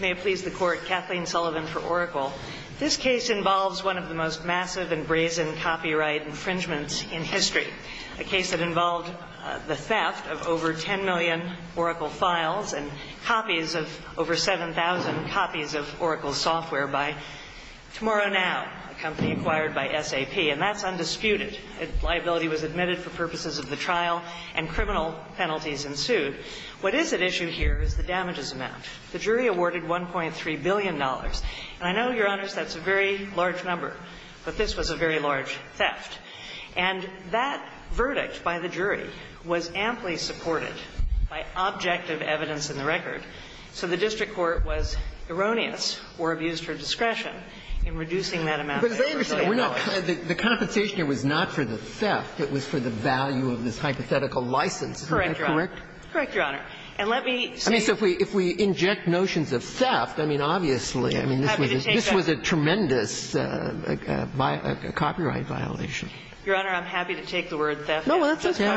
May it please the Court, Kathleen Sullivan for Oracle. This case involves one of the most massive and brazen copyright infringements in history, a case that involved the theft of over 10 million Oracle files and over 7,000 copies of Oracle software by TomorrowNow, a company acquired by SAP. And that's undisputed. A liability was admitted for purposes of the trial, and criminal penalties ensued. What is at issue here is the damages amount. The jury awarded $1.3 billion. And I know, Your Honors, that's a very large number, but this was a very large theft. And that verdict by the jury was amply supported by objective evidence in the record. So the district court was erroneous or abused her discretion in reducing that amount. But as I understand it, the compensation here was not for the theft. It was for the value of this hypothetical license. Am I correct? Correct, Your Honor. And let me say so if we inject notions of theft, I mean, obviously, I mean, this was a tremendous copyright violation. Your Honor, I'm happy to take the word theft. No, that's okay.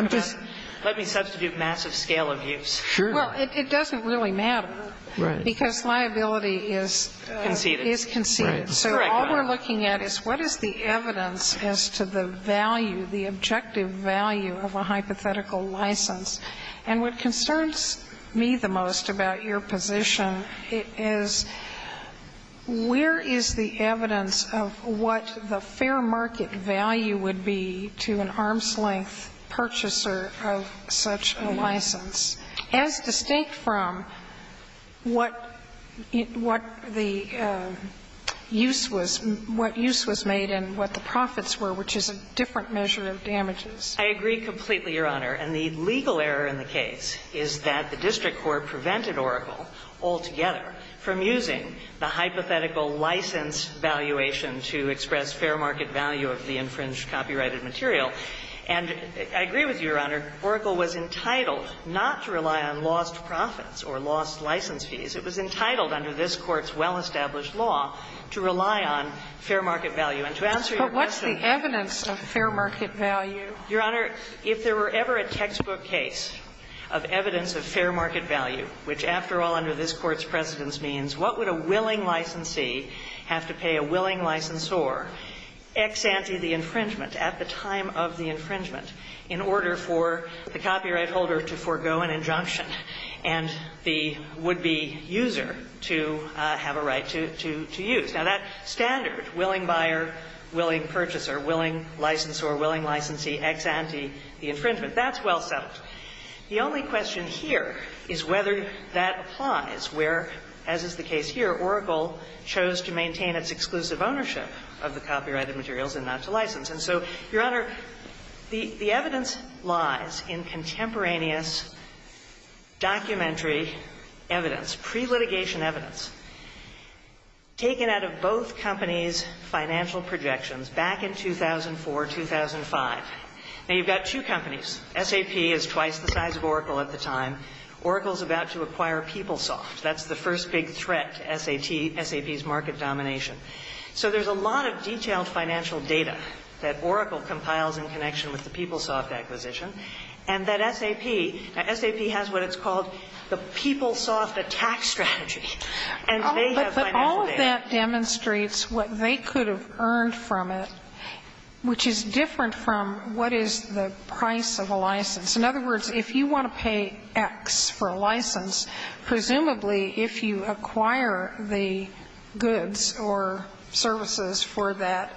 Let me substitute massive scale abuse. Sure. Well, it doesn't really matter. Right. Because liability is conceded. So all we're looking at is what is the evidence as to the value, the objective value of a hypothetical license. And what concerns me the most about your position is where is the evidence of what the fair market value would be to an arm's-length purchaser of such a license, as distinct from what the use was, what use was made and what the profits were, which is a different measure of damages. I agree completely, Your Honor. And the legal error in the case is that the district court prevented Oracle altogether from using the hypothetical license valuation to express fair market value of the infringed copyrighted material. And I agree with you, Your Honor. Oracle was entitled not to rely on lost profits or lost license fees. It was entitled under this Court's well-established law to rely on fair market value. But what's the evidence of fair market value? Your Honor, if there were ever a textbook case of evidence of fair market value, which after all under this Court's precedence means what would a willing licensee have to pay a willing licensor ex ante the infringement at the time of the infringement in order for the copyright holder to forego an injunction and the would-be user to have a right to use? Now, that standard, willing buyer, willing purchaser, willing licensor, willing licensee ex ante the infringement, that's well settled. The only question here is whether that applies where, as is the case here, Oracle chose to maintain its exclusive ownership of the copyrighted materials and not to license. And so, Your Honor, the evidence lies in contemporaneous documentary evidence, pre-litigation evidence, taken out of both companies' financial projections back in 2004, 2005. Now, you've got two companies. SAP is twice the size of Oracle at the time. Oracle's about to acquire PeopleSoft. That's the first big threat to SAP's market domination. So there's a lot of detailed financial data that Oracle compiles in connection with the PeopleSoft acquisition, and that SAP, now SAP has what it's called the PeopleSoft attack strategy. And they have financial data. But all of that demonstrates what they could have earned from it, which is different from what is the price of a license. In other words, if you want to pay X for a license, presumably if you acquire the goods or services for that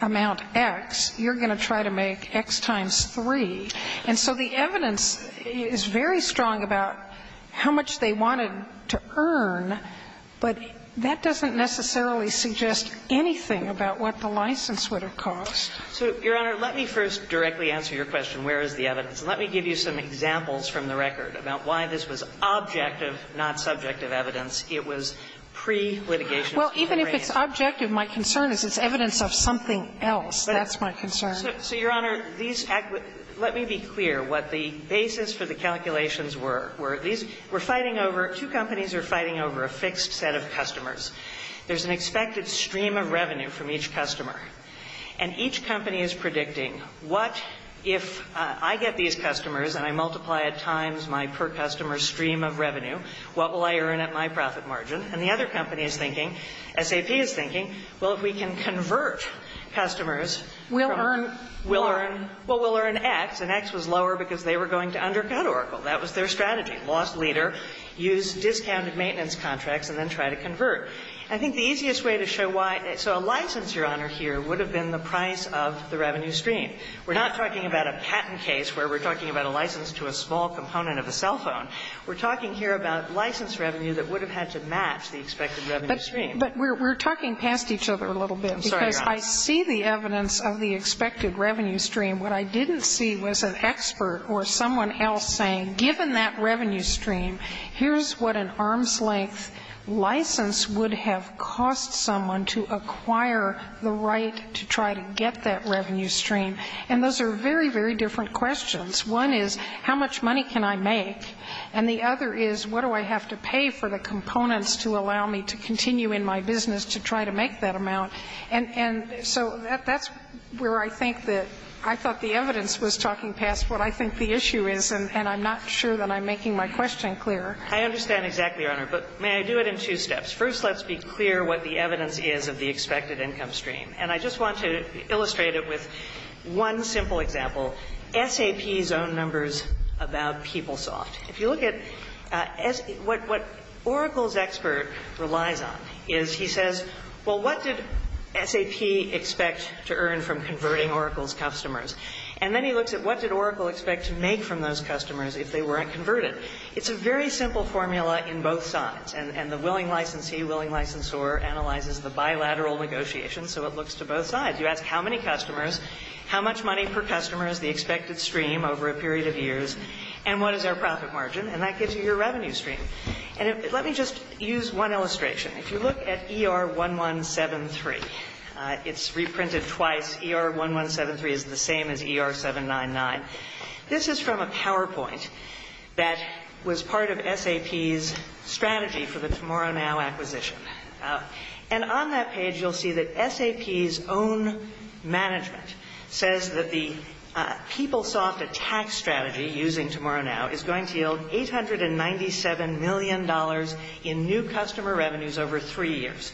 amount X, you're going to try to make X times 3. And so the evidence is very strong about how much they wanted to earn, but that doesn't necessarily suggest anything about what the license would have cost. So, Your Honor, let me first directly answer your question, where is the evidence? And let me give you some examples from the record about why this was objective, not subjective evidence. It was pre-litigation. Well, even if it's objective, my concern is it's evidence of something else. That's my concern. So, Your Honor, let me be clear what the basis for the calculations were. We're fighting over, two companies are fighting over a fixed set of customers. There's an expected stream of revenue from each customer. And each company is predicting what if I get these customers and I multiply at times my per customer stream of revenue, what will I earn at my profit margin? And the other company is thinking, SAP is thinking, well, if we can convert customers, we'll earn, well, we'll earn X, and X was lower because they were going to undercut Oracle. That was their strategy. Lost leader. Use discounted maintenance contracts and then try to convert. I think the easiest way to show why, so a license, Your Honor, here would have been the price of the revenue stream. We're not talking about a patent case where we're talking about a license to a small component of a cell phone. We're talking here about license revenue that would have had to match the expected revenue stream. But we're talking past each other a little bit because I see the evidence of the expected revenue stream. What I didn't see was an expert or someone else saying, given that revenue stream, here's what an arm's length license would have cost someone to acquire the right to try to get that revenue stream. And those are very, very different questions. One is, how much money can I make? And the other is, what do I have to pay for the components to allow me to continue in my business to try to make that amount? And so that's where I think that I thought the evidence was talking past what I think the issue is. And I'm not sure that I'm making my question clear. I understand exactly, Your Honor. But may I do it in two steps? First, let's be clear what the evidence is of the expected income stream. And I just want to illustrate it with one simple example, SAP's own numbers about PeopleSoft. If you look at what Oracle's expert relies on is he says, well, what did SAP expect to earn from converting Oracle's customers? And then he looks at what did Oracle expect to make from those customers if they weren't converted? It's a very simple formula in both sides. And the willing licensee, willing licensor analyzes the bilateral negotiations, so it looks to both sides. You ask how many customers, how much money per customer is the expected stream over a period of years, and what is our profit margin? And that gives you your revenue stream. And let me just use one illustration. If you look at ER1173, it's reprinted twice. ER1173 is the same as ER799. This is from a PowerPoint that was part of SAP's strategy for the Tomorrow Now acquisition. And on that page, you'll see that SAP's own management says that the PeopleSoft attack strategy using Tomorrow Now is going to yield $897 million in new customer revenues over three years.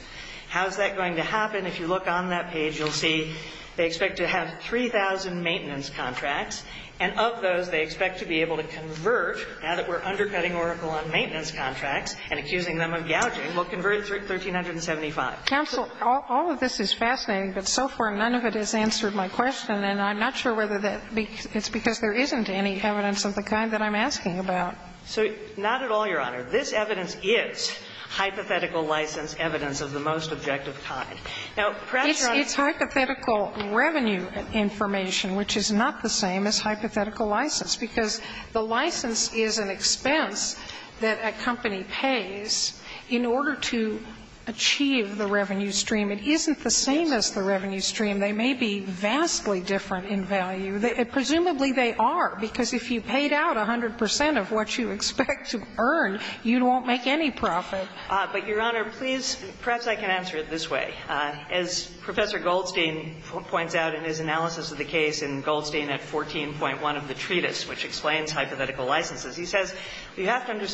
How is that going to happen? If you look on that page, you'll see they expect to have 3,000 maintenance contracts, and of those, they expect to be able to convert, now that we're undercutting Oracle on maintenance contracts and accusing them of gouging, will convert $1,375. Counsel, all of this is fascinating, but so far none of it has answered my question, and I'm not sure whether that's because there isn't any evidence of the kind that I'm asking about. So not at all, Your Honor. This evidence is hypothetical license evidence of the most objective kind. Now, perhaps, Your Honor, it's hypothetical revenue information, which is not the same as hypothetical license, because the license is an expense that a company pays in order to achieve the revenue stream. It isn't the same as the revenue stream. They may be vastly different in value. Presumably, they are, because if you paid out 100 percent of what you expect to earn, you won't make any profit. But, Your Honor, please, perhaps I can answer it this way. As Professor Goldstein points out in his analysis of the case in Goldstein at 14.1 of the treatise, which explains hypothetical licenses, he says you have to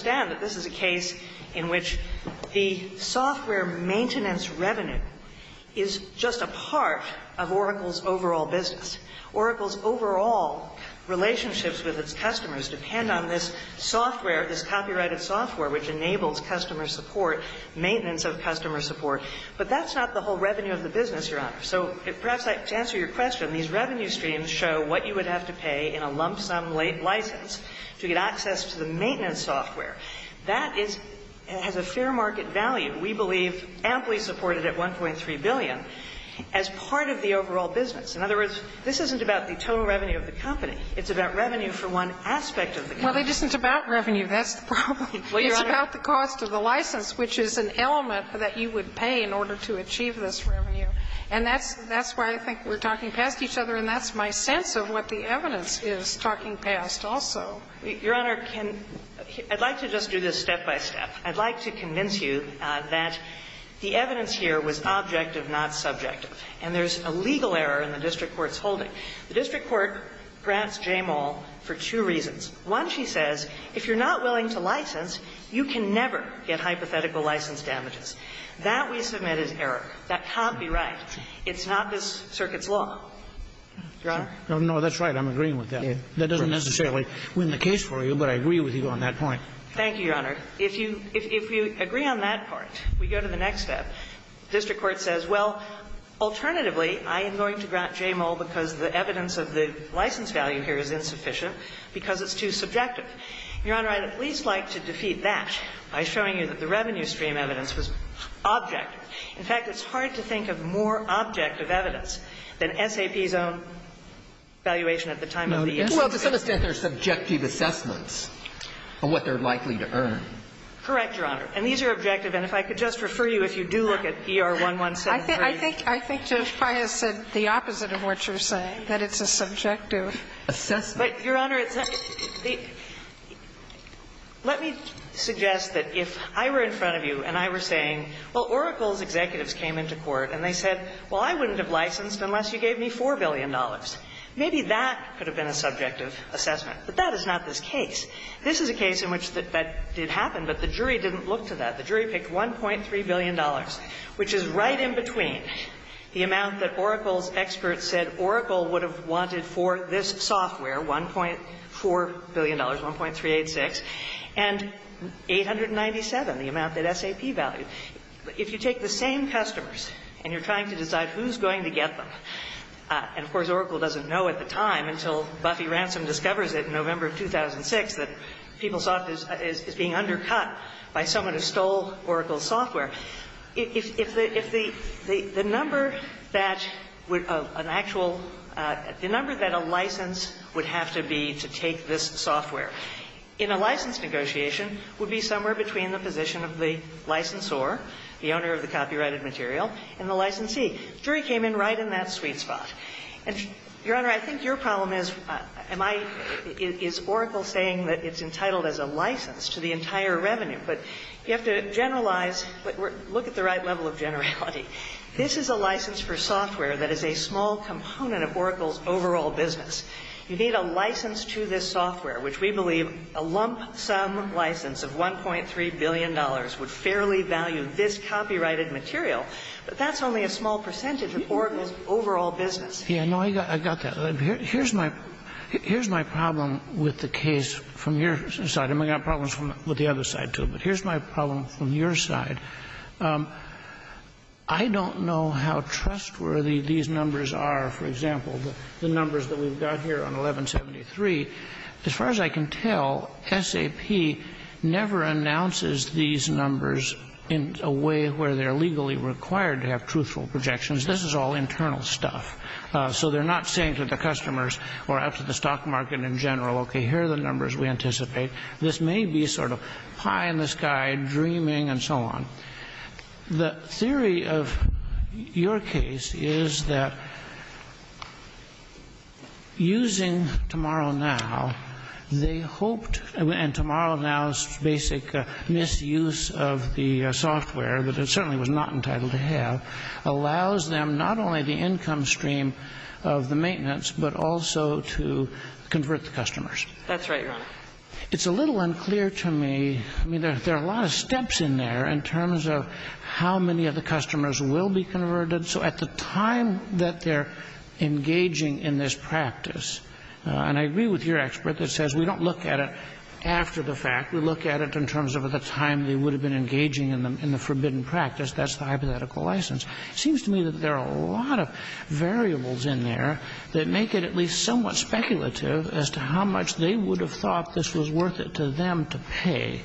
the software maintenance revenue is just a part of Oracle's overall business. Oracle's overall relationships with its customers depend on this software, this copyrighted software, which enables customer support, maintenance of customer support. But that's not the whole revenue of the business, Your Honor. So perhaps to answer your question, these revenue streams show what you would have to pay in a lump sum license to get access to the maintenance software. That is, has a fair market value, we believe, amply supported at 1.3 billion, as part of the overall business. In other words, this isn't about the total revenue of the company. It's about revenue for one aspect of the company. Well, it isn't about revenue. That's the problem. It's about the cost of the license, which is an element that you would pay in order to achieve this revenue. And that's why I think we're talking past each other, and that's my sense of what the evidence is talking past also. Your Honor, can – I'd like to just do this step by step. I'd like to convince you that the evidence here was objective, not subjective. And there's a legal error in the district court's holding. The district court grants Jamal for two reasons. One, she says, if you're not willing to license, you can never get hypothetical license damages. That, we submit, is error. That copyright. It's not this circuit's law. Your Honor? No, that's right. I'm agreeing with that. That doesn't necessarily win the case for you, but I agree with you on that point. Thank you, Your Honor. If you – if you agree on that part, we go to the next step. The district court says, well, alternatively, I am going to grant Jamal because the evidence of the license value here is insufficient because it's too subjective. Your Honor, I'd at least like to defeat that by showing you that the revenue stream evidence was objective. In fact, it's hard to think of more objective evidence than SAP's own valuation at the time of the estimation. Well, to some extent, there's subjective assessments of what they're likely to earn. Correct, Your Honor. And these are objective. And if I could just refer you, if you do look at ER1173. I think – I think Judge Pius said the opposite of what you're saying, that it's a subjective assessment. But, Your Honor, it's – let me suggest that if I were in front of you and I were saying, well, Oracle's executives came into court and they said, well, I wouldn't have licensed unless you gave me $4 billion. Maybe that could have been a subjective assessment. But that is not this case. This is a case in which that did happen, but the jury didn't look to that. The jury picked $1.3 billion, which is right in between the amount that Oracle's experts said Oracle would have wanted for this software, $1.4 billion, $1.386 billion, and 897, the amount that SAP valued. If you take the same customers and you're trying to decide who's going to get them and, of course, Oracle doesn't know at the time until Buffy Ransom discovers it in November of 2006 that PeopleSoft is being undercut by someone who stole Oracle's software. If the number that would – an actual – the number that a license would have to be to take this software in a license negotiation would be somewhere between the position of the licensor, the owner of the copyrighted material, and the licensee. The jury came in right in that sweet spot. And, Your Honor, I think your problem is, am I – is Oracle saying that it's entitled as a license to the entire revenue? But you have to generalize – look at the right level of generality. This is a license for software that is a small component of Oracle's overall business. You need a license to this software, which we believe a lump sum license of $1.3 billion would fairly value this copyrighted material, but that's only a small percentage of Oracle's overall business. Yeah, no, I got that. Here's my – here's my problem with the case from your side, and we've got problems with the other side, too. But here's my problem from your side. I don't know how trustworthy these numbers are. For example, the numbers that we've got here on 1173, as far as I can tell, SAP never announces these numbers in a way where they're legally required to have truthful projections. This is all internal stuff. So they're not saying to the customers or out to the stock market in general, okay, here are the numbers we anticipate. This may be sort of pie in the sky, dreaming, and so on. The theory of your case is that using TomorrowNow, they hoped – and TomorrowNow's basic misuse of the software that it certainly was not entitled to have allows them not only the income stream of the maintenance, but also to convert the customers. That's right, Your Honor. It's a little unclear to me – I mean, there are a lot of steps in there in terms of how many of the customers will be converted. So at the time that they're engaging in this practice – and I agree with your expert that says we don't look at it after the fact, we look at it in terms of the time they would have been engaging in the forbidden practice. That's the hypothetical license. It seems to me that there are a lot of variables in there that make it at least somewhat speculative as to how much they would have thought this was worth it to them to pay.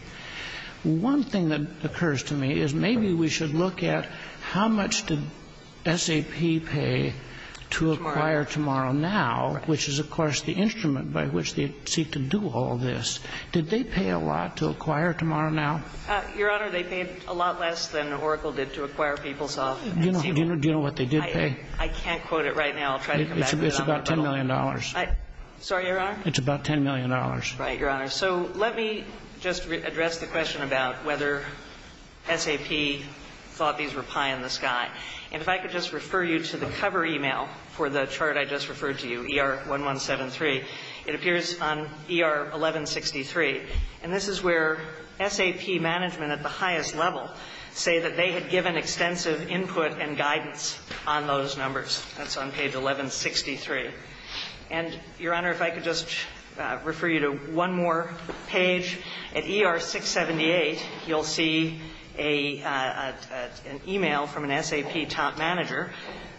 One thing that occurs to me is maybe we should look at how much did SAP pay to acquire TomorrowNow, which is, of course, the instrument by which they seek to do all this. Did they pay a lot to acquire TomorrowNow? Your Honor, they paid a lot less than Oracle did to acquire PeopleSoft. Do you know what they did pay? I can't quote it right now. I'll try to come back to it. It's about $10 million. Sorry, Your Honor? It's about $10 million. Right, Your Honor. So let me just address the question about whether SAP thought these were pie in the sky. And if I could just refer you to the cover email for the It appears on ER 1163. And this is where SAP management at the highest level say that they had given extensive input and guidance on those numbers. That's on page 1163. And, Your Honor, if I could just refer you to one more page. At ER 678, you'll see an email from an SAP top manager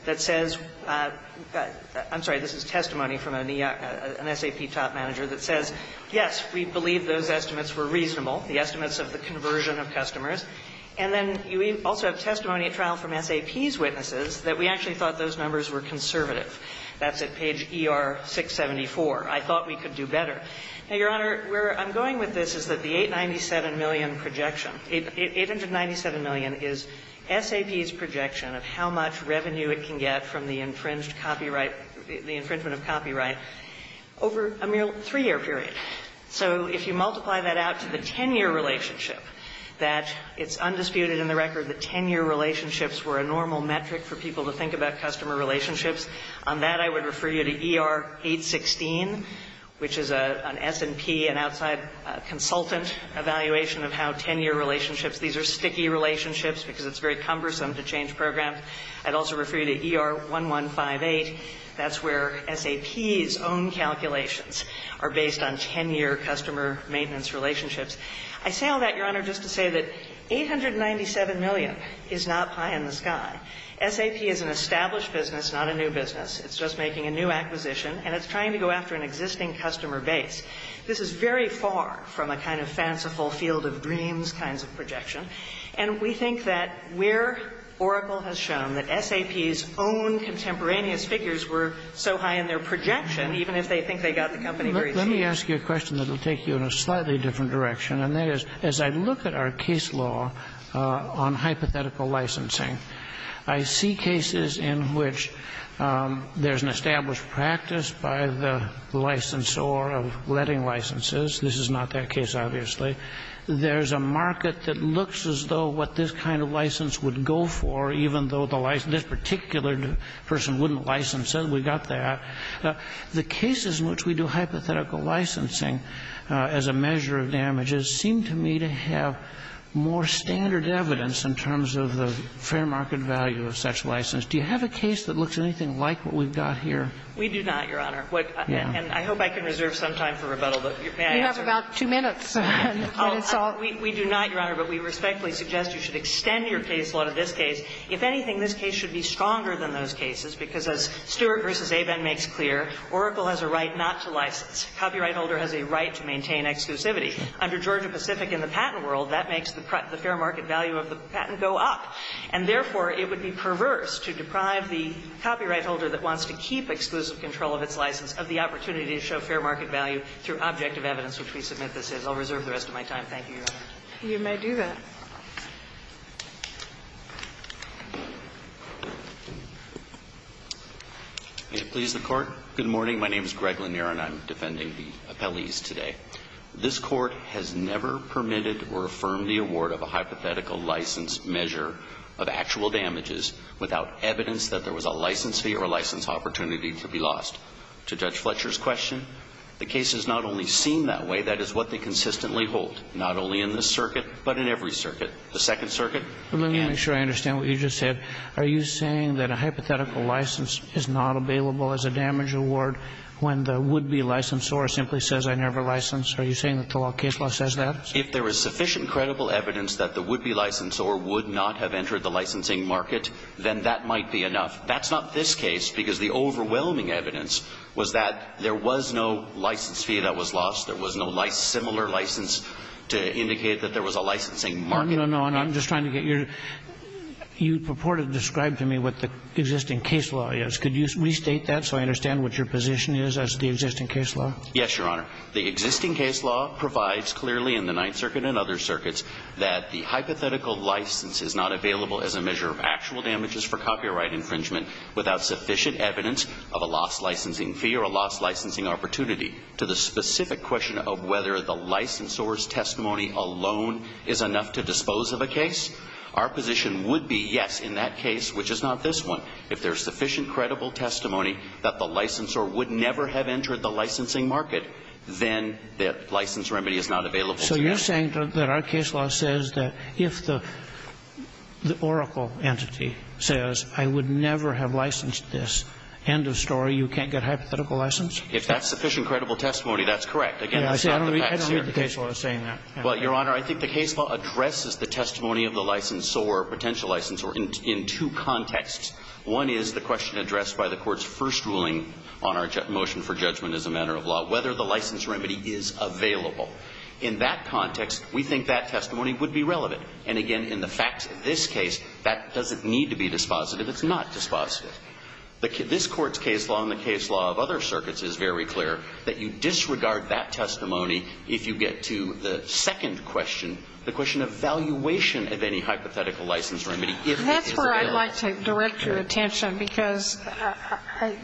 that says — I'm sorry, this is testimony from an SAP top manager that says, yes, we believe those estimates were reasonable, the estimates of the conversion of customers. And then you also have testimony at trial from SAP's witnesses that we actually thought those numbers were conservative. That's at page ER 674. I thought we could do better. Now, Your Honor, where I'm going with this is that the $897 million projection — $897 million is SAP's projection of how much revenue it can get from the infringed copyright — the infringement of copyright over a mere three-year period. So if you multiply that out to the 10-year relationship, that it's undisputed in the record that 10-year relationships were a normal metric for people to think about customer relationships. On that, I would refer you to ER 816, which is an S&P, an outside consultant, evaluation of how 10-year relationships — these are sticky relationships because it's very SAP's own calculations are based on 10-year customer maintenance relationships. I say all that, Your Honor, just to say that $897 million is not pie in the sky. SAP is an established business, not a new business. It's just making a new acquisition, and it's trying to go after an existing customer base. This is very far from a kind of fanciful field of dreams kinds of projection. And we think that where Oracle has shown that SAP's own contemporaneous figures were so high in their projection, even if they think they got the company very soon — Let me ask you a question that will take you in a slightly different direction, and that is, as I look at our case law on hypothetical licensing, I see cases in which there's an established practice by the licensor of letting licenses. This is not that case, obviously. There's a market that looks as though what this kind of license would go for, even though this particular person wouldn't license it. We've got that. The cases in which we do hypothetical licensing as a measure of damages seem to me to have more standard evidence in terms of the fair market value of such license. Do you have a case that looks anything like what we've got here? We do not, Your Honor. And I hope I can reserve some time for rebuttal, but may I answer? You have about two minutes. Oh, we do not, Your Honor, but we respectfully suggest you should extend your case law to this case. If anything, this case should be stronger than those cases, because as Stewart v. Abin makes clear, Oracle has a right not to license. Copyright holder has a right to maintain exclusivity. Under Georgia Pacific and the patent world, that makes the fair market value of the patent go up. And therefore, it would be perverse to deprive the copyright holder that wants to keep exclusive control of its license of the opportunity to show fair market value through an objective evidence, which we submit this is. I'll reserve the rest of my time. Thank you, Your Honor. You may do that. May it please the Court? Good morning. My name is Greg Lanier, and I'm defending the appellees today. This Court has never permitted or affirmed the award of a hypothetical license measure of actual damages without evidence that there was a license fee or a license opportunity to be lost. To Judge Fletcher's question, the cases not only seem that way, that is what they consistently hold, not only in this circuit, but in every circuit, the Second Circuit. Let me make sure I understand what you just said. Are you saying that a hypothetical license is not available as a damage award when the would-be licensor simply says, I never licensed? Are you saying that the law of case law says that? If there is sufficient credible evidence that the would-be licensor would not have entered the licensing market, then that might be enough. That's not this case, because the overwhelming evidence was that there was no license fee that was lost. There was no similar license to indicate that there was a licensing market. No, no, no. I'm just trying to get your – you purported to describe to me what the existing case law is. Could you restate that so I understand what your position is as to the existing case law? Yes, Your Honor. The existing case law provides clearly in the Ninth Circuit and other circuits that the hypothetical license is not available as a measure of actual damages for copyright infringement without sufficient evidence of a lost licensing fee or a lost licensing opportunity. To the specific question of whether the licensor's testimony alone is enough to dispose of a case, our position would be, yes, in that case, which is not this one, if there is sufficient credible testimony that the licensor would never have entered the licensing So you're saying that our case law says that if the – the oracle entity says, I would never have licensed this, end of story, you can't get hypothetical license? If that's sufficient credible testimony, that's correct. Again, it's not the facts here. I don't read the case law as saying that. Well, Your Honor, I think the case law addresses the testimony of the licensor or potential licensor in two contexts. One is the question addressed by the Court's first ruling on our motion for judgment as a matter of law, whether the license remedy is available. In that context, we think that testimony would be relevant. And, again, in the facts of this case, that doesn't need to be dispositive. It's not dispositive. This Court's case law and the case law of other circuits is very clear that you disregard that testimony if you get to the second question, the question of valuation of any hypothetical license remedy, if it is available. That's where I'd like to direct your attention, because I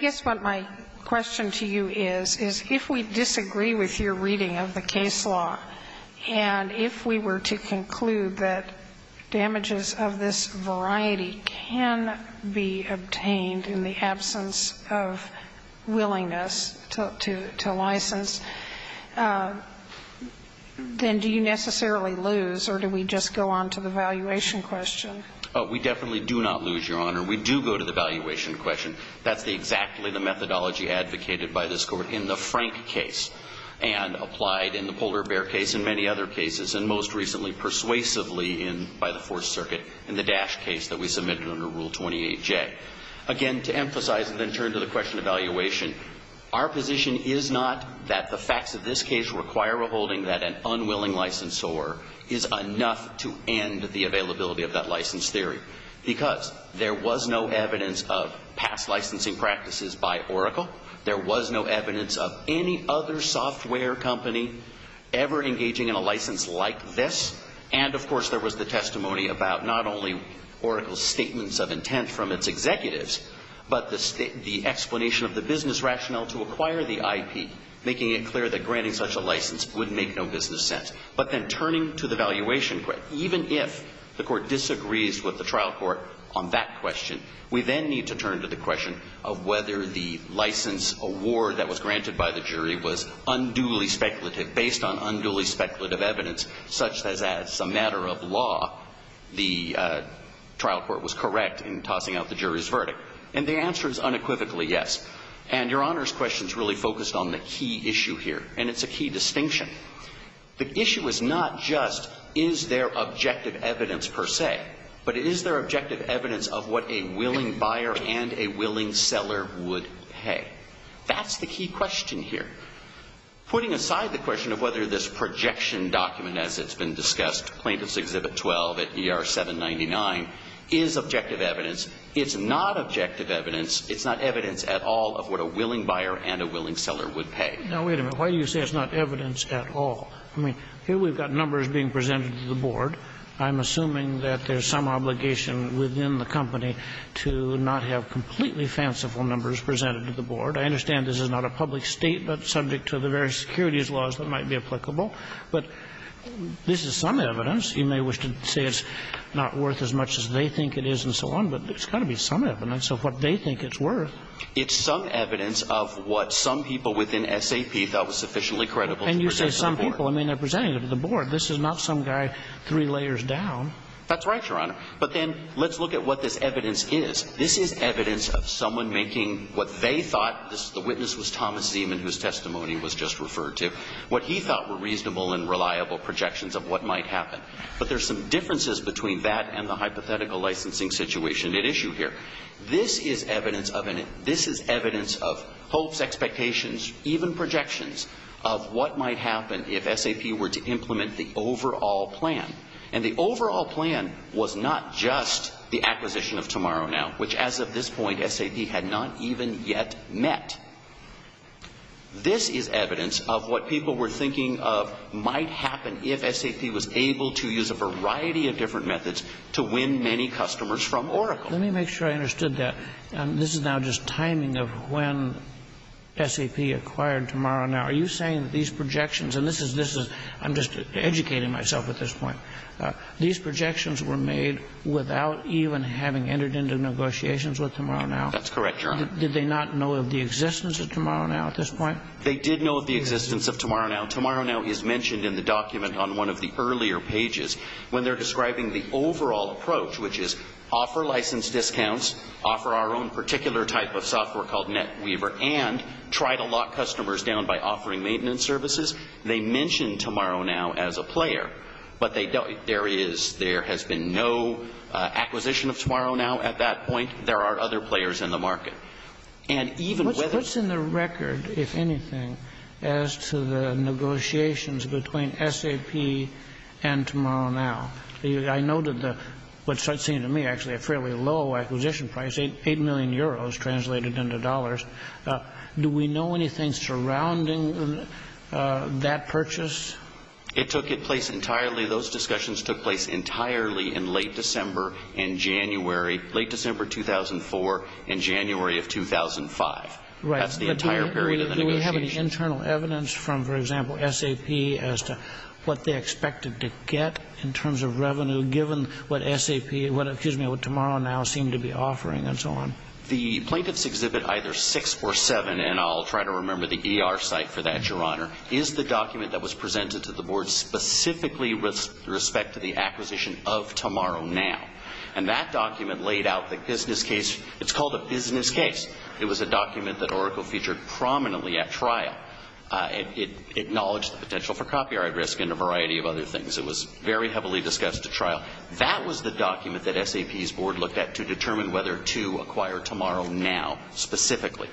guess what my question to you is, is if we disagree with your reading of the case law and if we were to conclude that damages of this variety can be obtained in the absence of willingness to license, then do you necessarily lose or do we just go on to the valuation question? Oh, we definitely do not lose, Your Honor. We do go to the valuation question. That's exactly the methodology advocated by this Court in the Frank case and applied in the Polder-Bear case and many other cases, and most recently persuasively by the Fourth Circuit in the Dash case that we submitted under Rule 28J. Again, to emphasize and then turn to the question of valuation, our position is not that the facts of this case require a holding that an unwilling licensor is enough to end the availability of that license theory, because there was no evidence of past licensing practices by Oracle. There was no evidence of any other software company ever engaging in a license like this. And, of course, there was the testimony about not only Oracle's statements of intent from its executives, but the explanation of the business rationale to acquire the IP, making it clear that granting such a license would make no business sense. But then turning to the valuation question, even if the Court disagrees with the trial court on that question, we then need to turn to the question of whether the license award that was granted by the jury was unduly speculative, based on unduly speculative evidence, such as as a matter of law, the trial court was correct in tossing out the jury's verdict. And the answer is unequivocally yes. And Your Honor's question is really focused on the key issue here, and it's a key distinction. The issue is not just is there objective evidence per se, but is there objective evidence of what a willing buyer and a willing seller would pay? That's the key question here. Putting aside the question of whether this projection document, as it's been discussed, Plaintiff's Exhibit 12 at ER 799, is objective evidence. It's not objective evidence. It's not evidence at all of what a willing buyer and a willing seller would pay. Now, wait a minute. Why do you say it's not evidence at all? I mean, here we've got numbers being presented to the Board. I'm assuming that there's some obligation within the company to not have completely fanciful numbers presented to the Board. I understand this is not a public state, but subject to the various securities laws that might be applicable. But this is some evidence. You may wish to say it's not worth as much as they think it is and so on, but there's got to be some evidence of what they think it's worth. It's some evidence of what some people within SAP thought was sufficiently credible to present to the Board. And you say some people. I mean, they're presenting it to the Board. This is not some guy three layers down. That's right, Your Honor. But then let's look at what this evidence is. This is evidence of someone making what they thought, the witness was Thomas Zeman, whose testimony was just referred to, what he thought were reasonable and reliable projections of what might happen. But there's some differences between that and the hypothetical licensing situation at issue here. This is evidence of it. This is evidence of hopes, expectations, even projections of what might happen if SAP were to implement the overall plan. And the overall plan was not just the acquisition of TomorrowNow, which, as of this point, SAP had not even yet met. This is evidence of what people were thinking of might happen if SAP was able to use a variety of different methods to win many customers from Oracle. Let me make sure I understood that. This is now just timing of when SAP acquired TomorrowNow. Are you saying that these projections, and this is, I'm just educating myself at this point, these projections were made without even having entered into negotiations with TomorrowNow? That's correct, Your Honor. Did they not know of the existence of TomorrowNow at this point? They did know of the existence of TomorrowNow. TomorrowNow is mentioned in the document on one of the earlier pages when they're describing the overall approach, which is offer license discounts, offer our own particular type of software called NetWeaver, and try to lock customers down by offering maintenance services. They mention TomorrowNow as a player, but there has been no acquisition of TomorrowNow at that point. There are other players in the market. What's in the record, if anything, as to the negotiations between SAP and TomorrowNow? I know that what starts seeing to me actually a fairly low acquisition price, 8 million euros translated into dollars. Do we know anything surrounding that purchase? It took place entirely, those discussions took place entirely in late December and January, late December 2004 and January of 2005. Right. That's the entire period of the negotiations. Do we have any internal evidence from, for example, SAP as to what they expected to get in terms of revenue given what SAP, what, excuse me, what TomorrowNow seemed to be offering and so on? The plaintiff's exhibit either 6 or 7, and I'll try to remember the ER site for that, Your Honor, is the document that was presented to the board specifically with respect to the acquisition of TomorrowNow. And that document laid out the business case. It's called a business case. It was a document that Oracle featured prominently at trial. It acknowledged the potential for copyright risk and a variety of other things. It was very heavily discussed at trial. That was the document that SAP's board looked at to determine whether to acquire TomorrowNow specifically.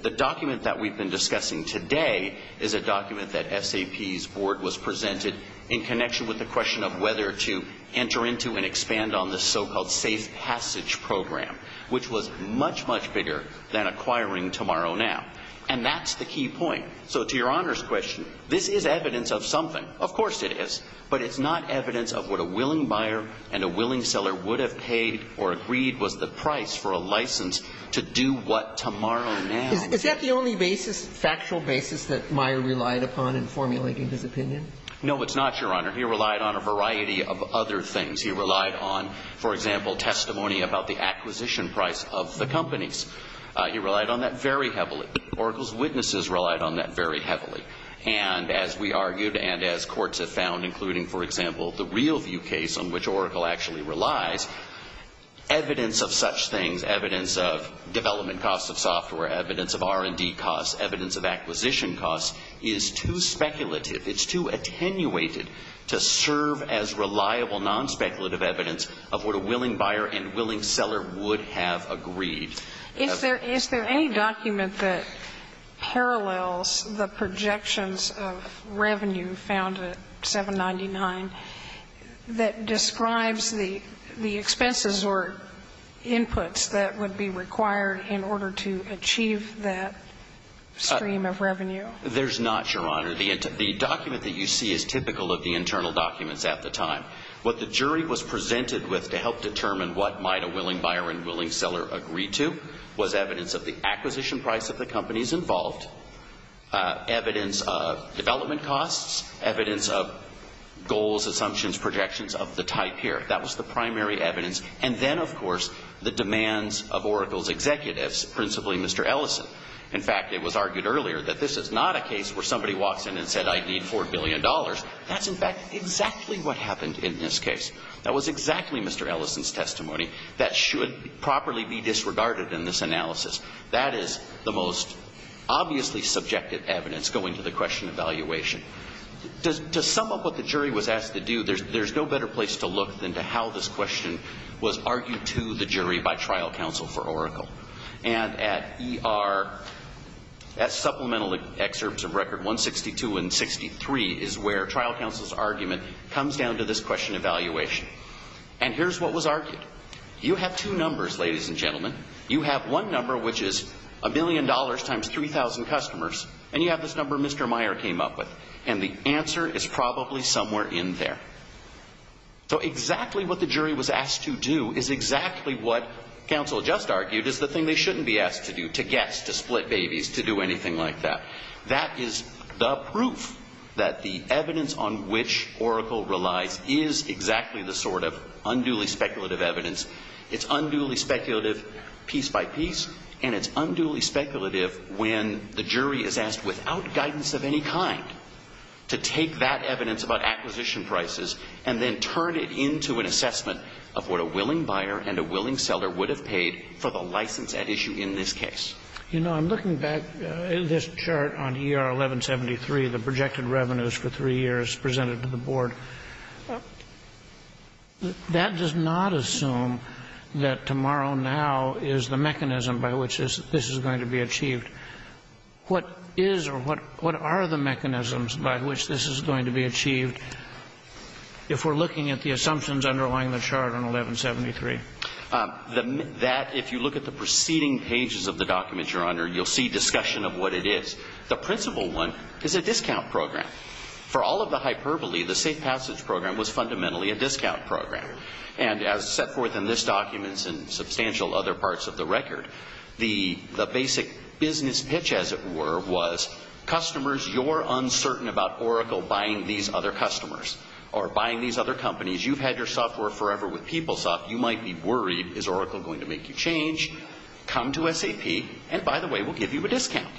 The document that we've been discussing today is a document that SAP's board was presented in connection with the question of whether to enter into and expand on this so-called safe passage program, which was much, much bigger than acquiring TomorrowNow. And that's the key point. So to Your Honor's question, this is evidence of something. Of course it is. But it's not evidence of what a willing buyer and a willing seller would have paid or agreed was the price for a license to do what TomorrowNow. Is that the only basis, factual basis, that Meyer relied upon in formulating his opinion? No, it's not, Your Honor. He relied on a variety of other things. He relied on, for example, testimony about the acquisition price of the companies. He relied on that very heavily. Oracle's witnesses relied on that very heavily. And as we argued and as courts have found, including, for example, the Realview case on which Oracle actually relies, evidence of such things, evidence of development costs of software, evidence of R&D costs, evidence of acquisition costs, is too speculative. It's too attenuated to serve as reliable, non-speculative evidence of what a willing buyer and willing seller would have agreed. Is there any document that parallels the projections of revenue found at 799 that describes the expenses or inputs that would be required in order to achieve that stream of revenue? There's not, Your Honor. The document that you see is typical of the internal documents at the time. What the jury was presented with to help determine what might a willing buyer and willing seller agreed to was evidence of the acquisition price of the companies involved, evidence of development costs, evidence of goals, assumptions, projections of the type here. That was the primary evidence. And then, of course, the demands of Oracle's executives, principally Mr. Ellison. In fact, it was argued earlier that this is not a case where somebody walks in and said, I need $4 billion. That's, in fact, exactly what happened in this case. That was exactly Mr. Ellison's testimony that should properly be disregarded in this analysis. That is the most obviously subjective evidence going to the question of valuation. To sum up what the jury was asked to do, there's no better place to look than to how this question was argued to the jury by trial counsel for Oracle. And at ER, at supplemental excerpts of record 162 and 63 is where trial counsel's argument comes down to this question of valuation. And here's what was argued. You have two numbers, ladies and gentlemen. You have one number, which is $1 million times 3,000 customers. And you have this number Mr. Meyer came up with. And the answer is probably somewhere in there. So exactly what the jury was asked to do is exactly what counsel just argued is the thing they shouldn't be asked to do, to guess, to split babies, to do anything like that. That is the proof that the evidence on which Oracle relies is exactly the sort of unduly speculative evidence. It's unduly speculative piece by piece, and it's unduly speculative when the jury is asked without guidance of any kind to take that evidence about acquisition prices and then turn it into an assessment of what a willing buyer and a willing seller would have paid for the license at issue in this case. You know, I'm looking back at this chart on ER 1173, the projected revenues for three years presented to the board. That does not assume that tomorrow now is the mechanism by which this is going to be achieved. What is or what are the mechanisms by which this is going to be achieved if we're looking at the assumptions underlying the chart on 1173? That, if you look at the preceding pages of the documents, Your Honor, you'll see discussion of what it is. The principal one is a discount program. For all of the hyperbole, the safe passage program was fundamentally a discount program. And as set forth in this document and substantial other parts of the record, the basic business pitch, as it were, was customers, you're uncertain about Oracle buying these other customers or buying these other companies. You've had your software forever with PeopleSoft. You might be worried, is Oracle going to make you change? Come to SAP, and by the way, we'll give you a discount.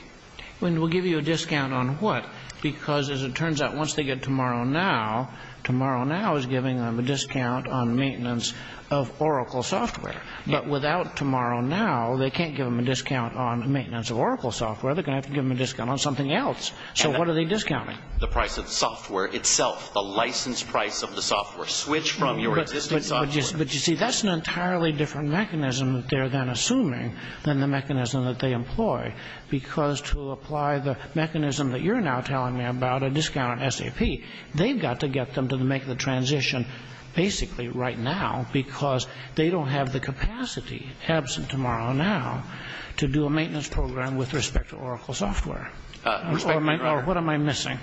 And we'll give you a discount on what? Because as it turns out, once they get tomorrow now, tomorrow now is giving them a discount on maintenance of Oracle software. But without tomorrow now, they can't give them a discount on maintenance of Oracle software. They're going to have to give them a discount on something else. So what are they discounting? The price of the software itself, the license price of the software. Switch from your existing software. But you see, that's an entirely different mechanism that they're then assuming than the mechanism that they employ. Because to apply the mechanism that you're now telling me about, a discount on SAP, they've got to get them to make the transition basically right now because they don't have the capacity, absent tomorrow now, to do a maintenance program with respect to Oracle software. What am I missing?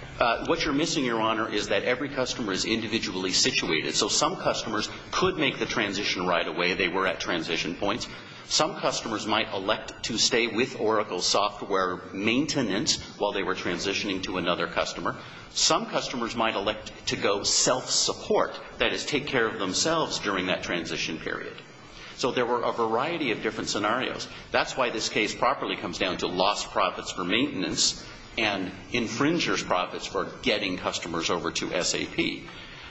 What you're missing, Your Honor, is that every customer is individually situated. So some customers could make the transition right away. They were at transition points. Some customers might elect to stay with Oracle software maintenance while they were transitioning to another customer. Some customers might elect to go self-support, that is, take care of themselves during that transition period. So there were a variety of different scenarios. That's why this case properly comes down to lost profits for maintenance and infringers' profits for getting customers over to SAP.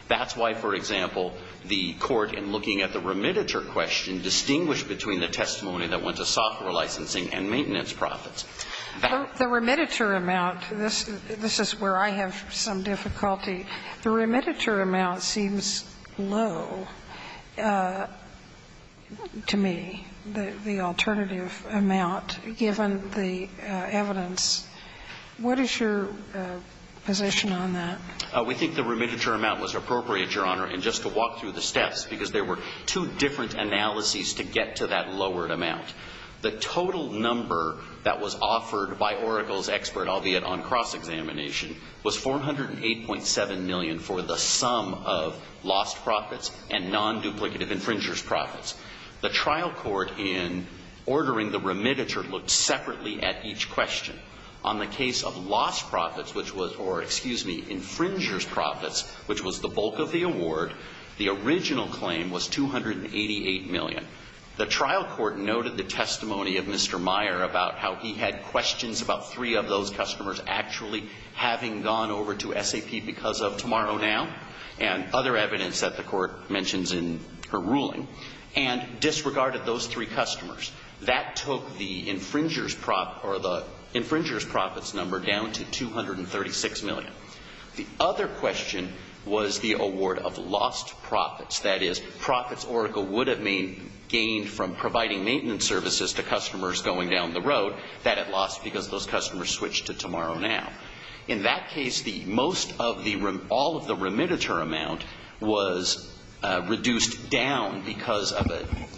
That's why, for example, the court, in looking at the remittiture question, distinguished between the testimony that went to software licensing and maintenance profits. The remittiture amount, this is where I have some difficulty. The remittiture amount seems low to me. The alternative amount, given the evidence, what is your position on that? We think the remittiture amount was appropriate, Your Honor, and just to walk through the steps because there were two different analyses to get to that lowered amount. The total number that was offered by Oracle's expert, albeit on cross examination, was $408.7 million for the sum of lost profits and non-duplicative infringers' profits. The trial court, in ordering the remittiture, looked separately at each question. On the case of lost profits, which was, or excuse me, infringers' profits, which was the bulk of the award, the original claim was $288 million. The trial court noted the testimony of Mr. Meyer about how he had questions about three of those customers actually having gone over to SAP because of Tomorrow Now and other evidence that the court mentions in her ruling. And disregarded those three customers. That took the infringers' profits number down to $236 million. The other question was the award of lost profits. That is, profits Oracle would have gained from providing maintenance services to customers going down the road that it lost because those customers switched to Tomorrow Now. In that case, most of the, all of the remittiture amount was reduced down because of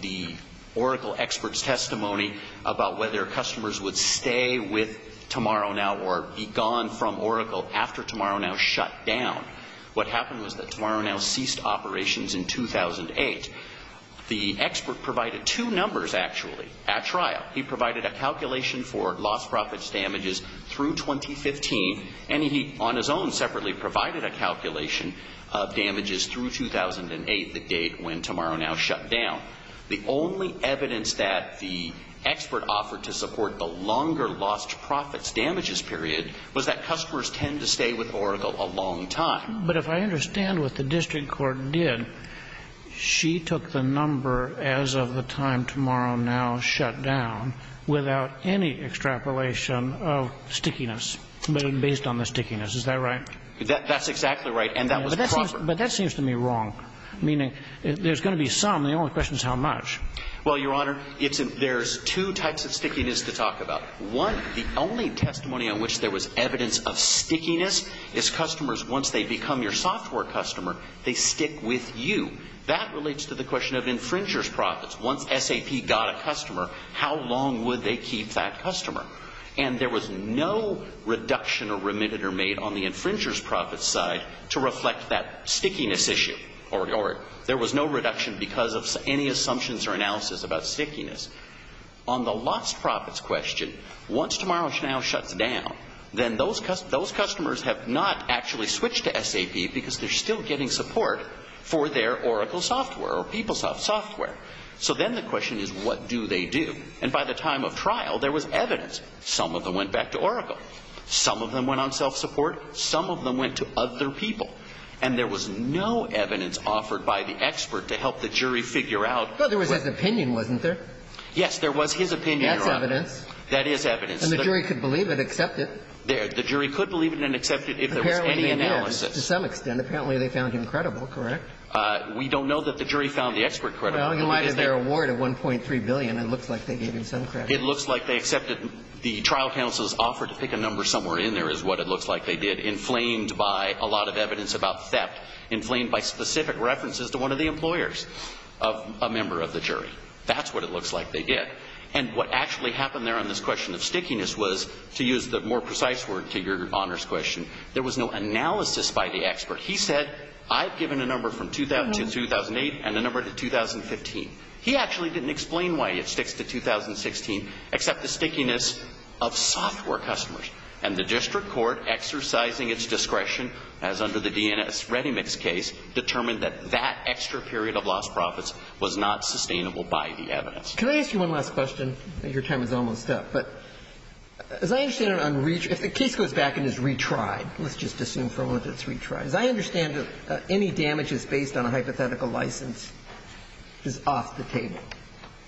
the Oracle expert's testimony about whether customers would stay with Tomorrow Now or be gone from Oracle after Tomorrow Now shut down. What happened was that Tomorrow Now ceased operations in 2008. The expert provided two numbers, actually, at trial. He provided a calculation for lost profits damages through 2015. And he, on his own, separately provided a calculation of damages through 2008, the date when Tomorrow Now shut down. The only evidence that the expert offered to support the longer lost profits damages period was that customers tend to stay with Oracle a long time. But if I understand what the district court did, she took the number as of the time Tomorrow Now shut down without any extrapolation of stickiness, but based on the stickiness. Is that right? That's exactly right. And that was proper. But that seems to me wrong, meaning there's going to be some. The only question is how much. Well, Your Honor, there's two types of stickiness to talk about. One, the only testimony on which there was evidence of stickiness is customers, once they become your software customer, they stick with you. That relates to the question of infringer's profits. Once SAP got a customer, how long would they keep that customer? And there was no reduction or remitted or made on the infringer's profits side to reflect that stickiness issue. There was no reduction because of any assumptions or analysis about stickiness. On the lost profits question, once Tomorrow Now shuts down, then those customers have not actually switched to SAP because they're still getting support for their Oracle software or PeopleSoft software. So then the question is what do they do? And by the time of trial, there was evidence. Some of them went back to Oracle. Some of them went on self-support. Some of them went to other people. And there was no evidence offered by the expert to help the jury figure out. No, there was his opinion, wasn't there? Yes, there was his opinion, Your Honor. That's evidence. That is evidence. And the jury could believe it, accept it. The jury could believe it and accept it if there was any analysis. To some extent. Apparently they found him credible, correct? We don't know that the jury found the expert credible. Well, he might have their award of $1.3 billion and it looks like they gave him some credit. It looks like they accepted the trial counsel's offer to pick a number somewhere in there is what it looks like they did, inflamed by a lot of evidence about theft, inflamed by specific references to one of the employers of a member of the jury. That's what it looks like they did. And what actually happened there on this question of stickiness was, to use the more precise word to Your Honor's question, there was no analysis by the expert. He said, I've given a number from 2000 to 2008 and a number to 2015. He actually didn't explain why it sticks to 2016 except the stickiness of software customers. And the district court, exercising its discretion as under the DNS Ready Mix case, determined that that extra period of lost profits was not sustainable by the evidence. Can I ask you one last question? Your time is almost up. But as I understand it, if the case goes back and is retried, let's just assume for a moment that it's retried, as I understand it, any damages based on a hypothetical license is off the table.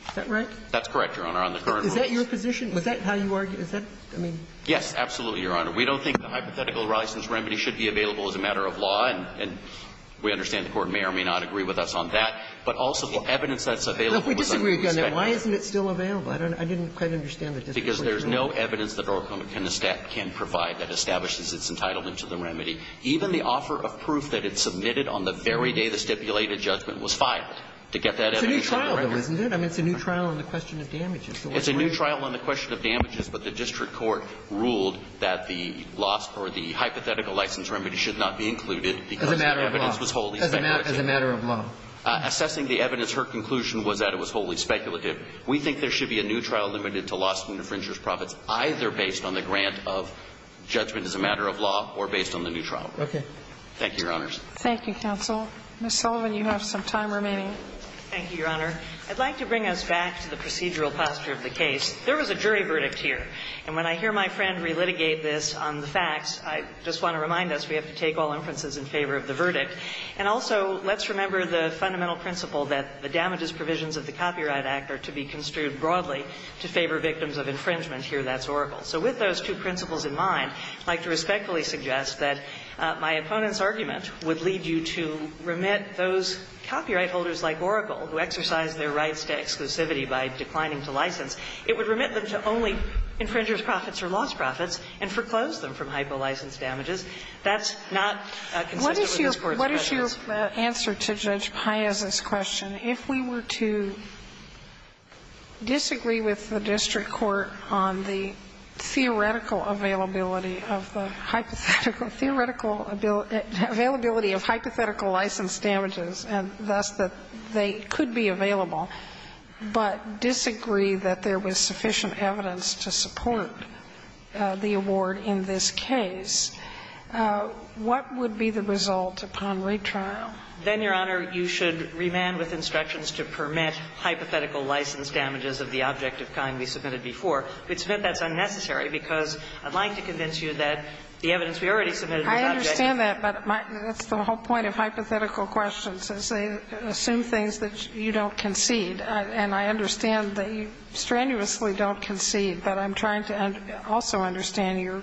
Is that right? That's correct, Your Honor. On the current rules. Is that your position? Is that how you argue? Is that, I mean? Yes, absolutely, Your Honor. We don't think the hypothetical license remedy should be available as a matter of law, and we understand the Court may or may not agree with us on that. But also the evidence that's available was under the spectrum. Well, if we disagree again, then why isn't it still available? I don't know. I didn't quite understand the discretion. Because there's no evidence that the district court can provide that establishes its entitlement to the remedy. Even the offer of proof that it submitted on the very day the stipulated judgment was filed to get that evidence on the record. It's a new trial, though, isn't it? I mean, it's a new trial on the question of damages. It's a new trial on the question of damages, but the district court ruled that the loss or the hypothetical license remedy should not be included because the evidence was wholly speculative. As a matter of law. As a matter of law. Assessing the evidence, her conclusion was that it was wholly speculative. We think there should be a new trial limited to lawsuit and infringer's profits either based on the grant of judgment as a matter of law or based on the new trial. Okay. Thank you, Your Honors. Thank you, counsel. Ms. Sullivan, you have some time remaining. Thank you, Your Honor. I'd like to bring us back to the procedural posture of the case. There was a jury verdict here. And when I hear my friend relitigate this on the facts, I just want to remind us we have to take all inferences in favor of the verdict. And also, let's remember the fundamental principle that the damages provisions of the Copyright Act are to be construed broadly to favor victims of infringement and here that's Oracle. So with those two principles in mind, I'd like to respectfully suggest that my opponent's argument would lead you to remit those copyright holders like Oracle, who exercise their rights to exclusivity by declining to license, it would remit them to only infringer's profits or lost profits and foreclose them from hypolicense damages. That's not consistent with this Court's prejudice. What is your answer to Judge Paez's question? If we were to disagree with the district court on the theoretical availability of the hypothetical, theoretical availability of hypothetical license damages and thus that they could be available, but disagree that there was sufficient evidence to support the award in this case, what would be the result upon retrial? Then, Your Honor, you should remand with instructions to permit hypothetical license damages of the object of kind we submitted before. If it's meant that's unnecessary, because I'd like to convince you that the evidence we already submitted to the object. I understand that, but that's the whole point of hypothetical questions is they assume things that you don't concede, and I understand that you strenuously don't concede, but I'm trying to also understand your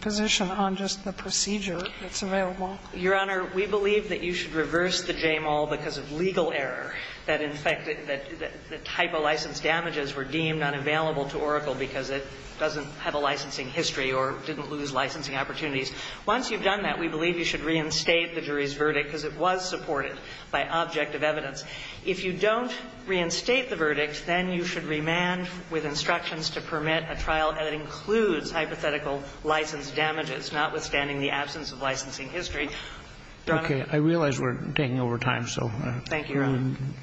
position on just the procedure that's available. Your Honor, we believe that you should reverse the JAMAL because of legal error, that in fact the type of license damages were deemed unavailable to Oracle because it doesn't have a licensing history or didn't lose licensing opportunities. Once you've done that, we believe you should reinstate the jury's verdict because it was supported by object of evidence. If you don't reinstate the verdict, then you should remand with instructions to permit a trial that includes hypothetical license damages, notwithstanding the absence of licensing history. Your Honor. Okay. I realize we're taking over time, so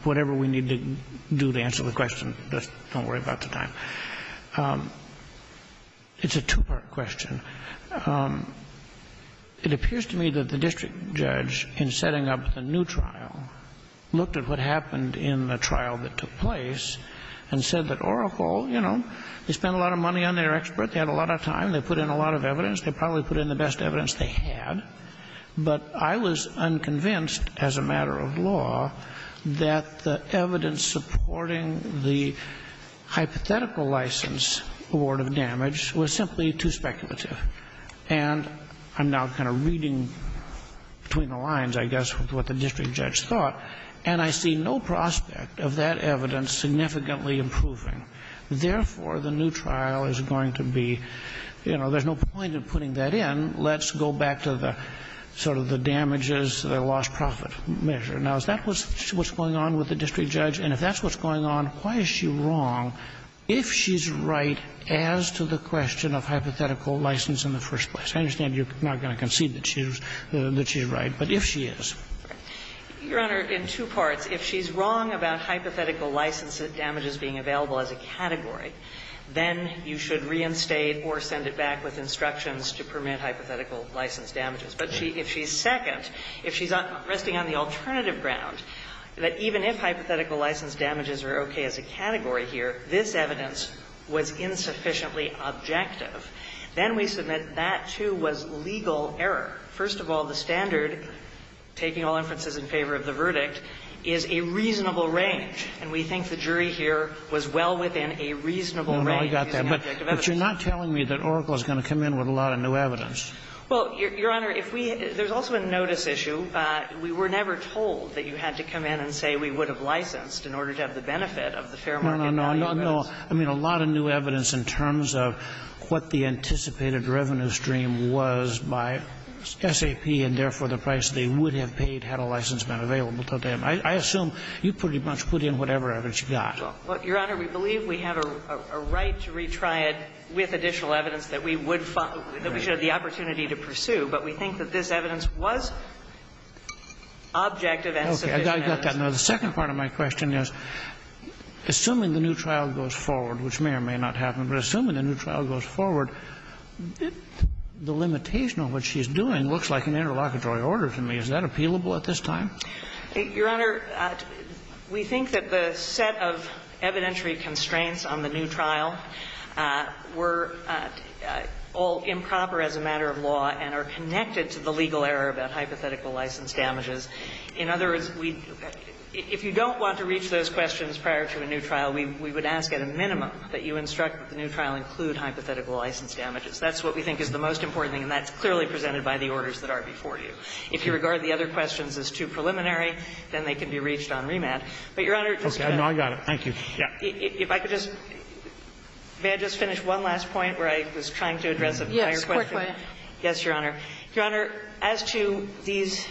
whatever we need to do to answer the question, just don't worry about the time. It's a two-part question. It appears to me that the district judge, in setting up the new trial, looked at what happened in the trial that took place and said that Oracle, you know, they spent a lot of money on their expert. They had a lot of time. They put in a lot of evidence. They probably put in the best evidence they had. But I was unconvinced, as a matter of law, that the evidence supporting the hypothetical license award of damage was simply too speculative. And I'm now kind of reading between the lines, I guess, with what the district judge thought, and I see no prospect of that evidence significantly improving. Therefore, the new trial is going to be, you know, there's no point in putting that in. Let's go back to the sort of the damages, the lost profit measure. Now, is that what's going on with the district judge? And if that's what's going on, why is she wrong if she's right as to the question of hypothetical license in the first place? I understand you're not going to concede that she's right, but if she is. Your Honor, in two parts. First, if she's wrong about hypothetical license damages being available as a category, then you should reinstate or send it back with instructions to permit hypothetical license damages. But if she's second, if she's resting on the alternative ground, that even if hypothetical license damages are okay as a category here, this evidence was insufficiently objective, then we submit that, too, was legal error. First of all, the standard, taking all inferences in favor of the verdict, is a reasonable range, and we think the jury here was well within a reasonable range. No, no, I got that. But you're not telling me that Oracle is going to come in with a lot of new evidence. Well, Your Honor, if we – there's also a notice issue. We were never told that you had to come in and say we would have licensed in order to have the benefit of the fair market value. No, no, no. I mean, a lot of new evidence in terms of what the anticipated revenue stream was by SAP and, therefore, the price they would have paid had a license been available to them. I assume you pretty much put in whatever evidence you got. Well, Your Honor, we believe we have a right to retry it with additional evidence that we would – that we should have the opportunity to pursue. But we think that this evidence was objective and sufficient. Okay, I got that. Now, the second part of my question is, assuming the new trial goes forward, which may or may not happen, but assuming the new trial goes forward, the limitation of what she's doing looks like an interlocutory order to me. Is that appealable at this time? Your Honor, we think that the set of evidentiary constraints on the new trial were all improper as a matter of law and are connected to the legal error about hypothetical license damages. In other words, we – if you don't want to reach those questions prior to a new trial, we would ask at a minimum that you instruct that the new trial include hypothetical license damages. That's what we think is the most important thing, and that's clearly presented by the orders that are before you. If you regard the other questions as too preliminary, then they can be reached on remand. But, Your Honor, just to add to that question, if I could just – may I just finish one last point where I was trying to address a prior question? Yes, a quick one. Yes, Your Honor. Your Honor, as to these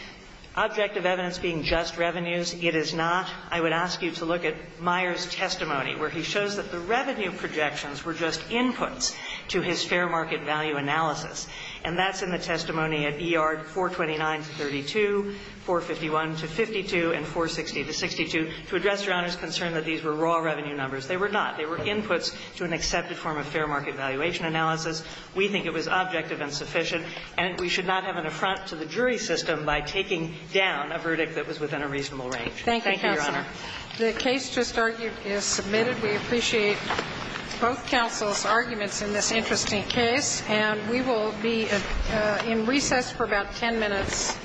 objective evidence being just revenues, it is not. I would ask you to look at Meyer's testimony, where he shows that the revenue projections were just inputs to his fair market value analysis. And that's in the testimony at ER 429-32, 451-52, and 460-62, to address Your Honor's concern that these were raw revenue numbers. They were not. They were inputs to an accepted form of fair market valuation analysis. We think it was objective and sufficient, and we should not have an affront to the jury system by taking down a verdict that was within a reasonable range. Thank you, Your Honor. The case just argued is submitted. We appreciate both counsel's arguments in this interesting case. And we will be in recess for about 10 minutes.